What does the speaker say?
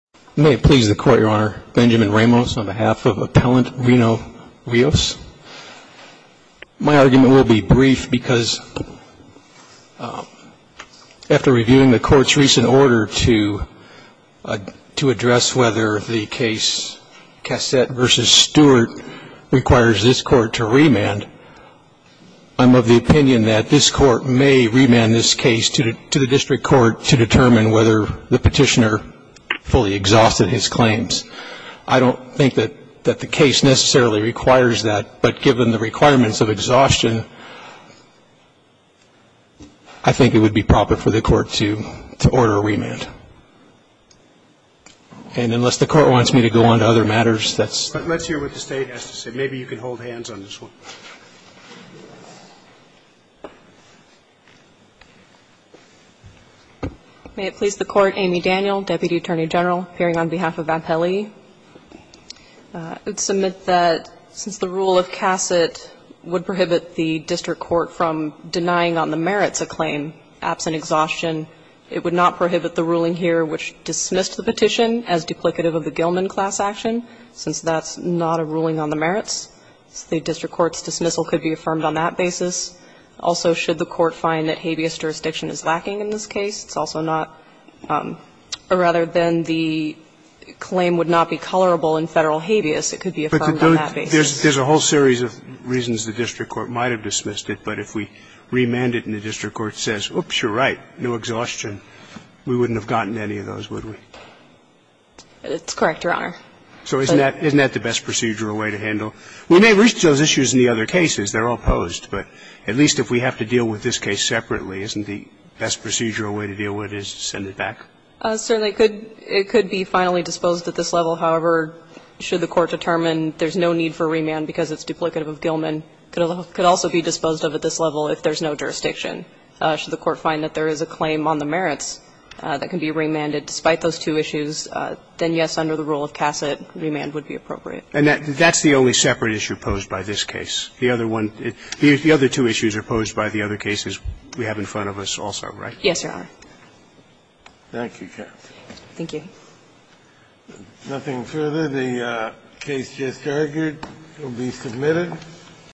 May it please the Court, Your Honor, Benjamin Ramos on behalf of Appellant Reno Rios. My argument will be brief because after reviewing the Court's recent order to address whether the case Cassett v. Stewart requires this Court to remand, I'm of the opinion that this Court may remand this case to the district court to determine whether the petitioner fully exhausted his claims. I don't think that the case necessarily requires that, but given the requirements of exhaustion, I think it would be proper for the Court to order a remand. And unless the Court wants me to go on to other matters, that's the case. But let's hear what the State has to say. Maybe you can hold hands on this one. May it please the Court, Amy Daniel, Deputy Attorney General, appearing on behalf of Appellee. I would submit that since the rule of Cassett would prohibit the district court from dismissing the petition as duplicative of the Gilman class action, since that's not a ruling on the merits, the district court's dismissal could be affirmed on that basis. Also, should the court find that habeas jurisdiction is lacking in this case, it's also not, or rather than the claim would not be colorable in Federal habeas, it could be affirmed on that basis. There's a whole series of reasons the district court might have dismissed it, but if we had gotten the right new exhaustion, we wouldn't have gotten any of those, would we? It's correct, Your Honor. So isn't that the best procedural way to handle? We may reach those issues in the other cases. They're all posed, but at least if we have to deal with this case separately, isn't the best procedural way to deal with it is to send it back? Certainly. It could be finally disposed at this level. However, should the court determine there's no need for remand because it's duplicative of Gilman, it could also be disposed of at this level if there's no jurisdiction. Should the court find that there is a claim on the merits that can be remanded despite those two issues, then, yes, under the rule of Cassett, remand would be appropriate. And that's the only separate issue posed by this case. The other one the other two issues are posed by the other cases we have in front of us also, right? Yes, Your Honor. Thank you, Kathleen. Thank you. Nothing further. The case just argued will be submitted.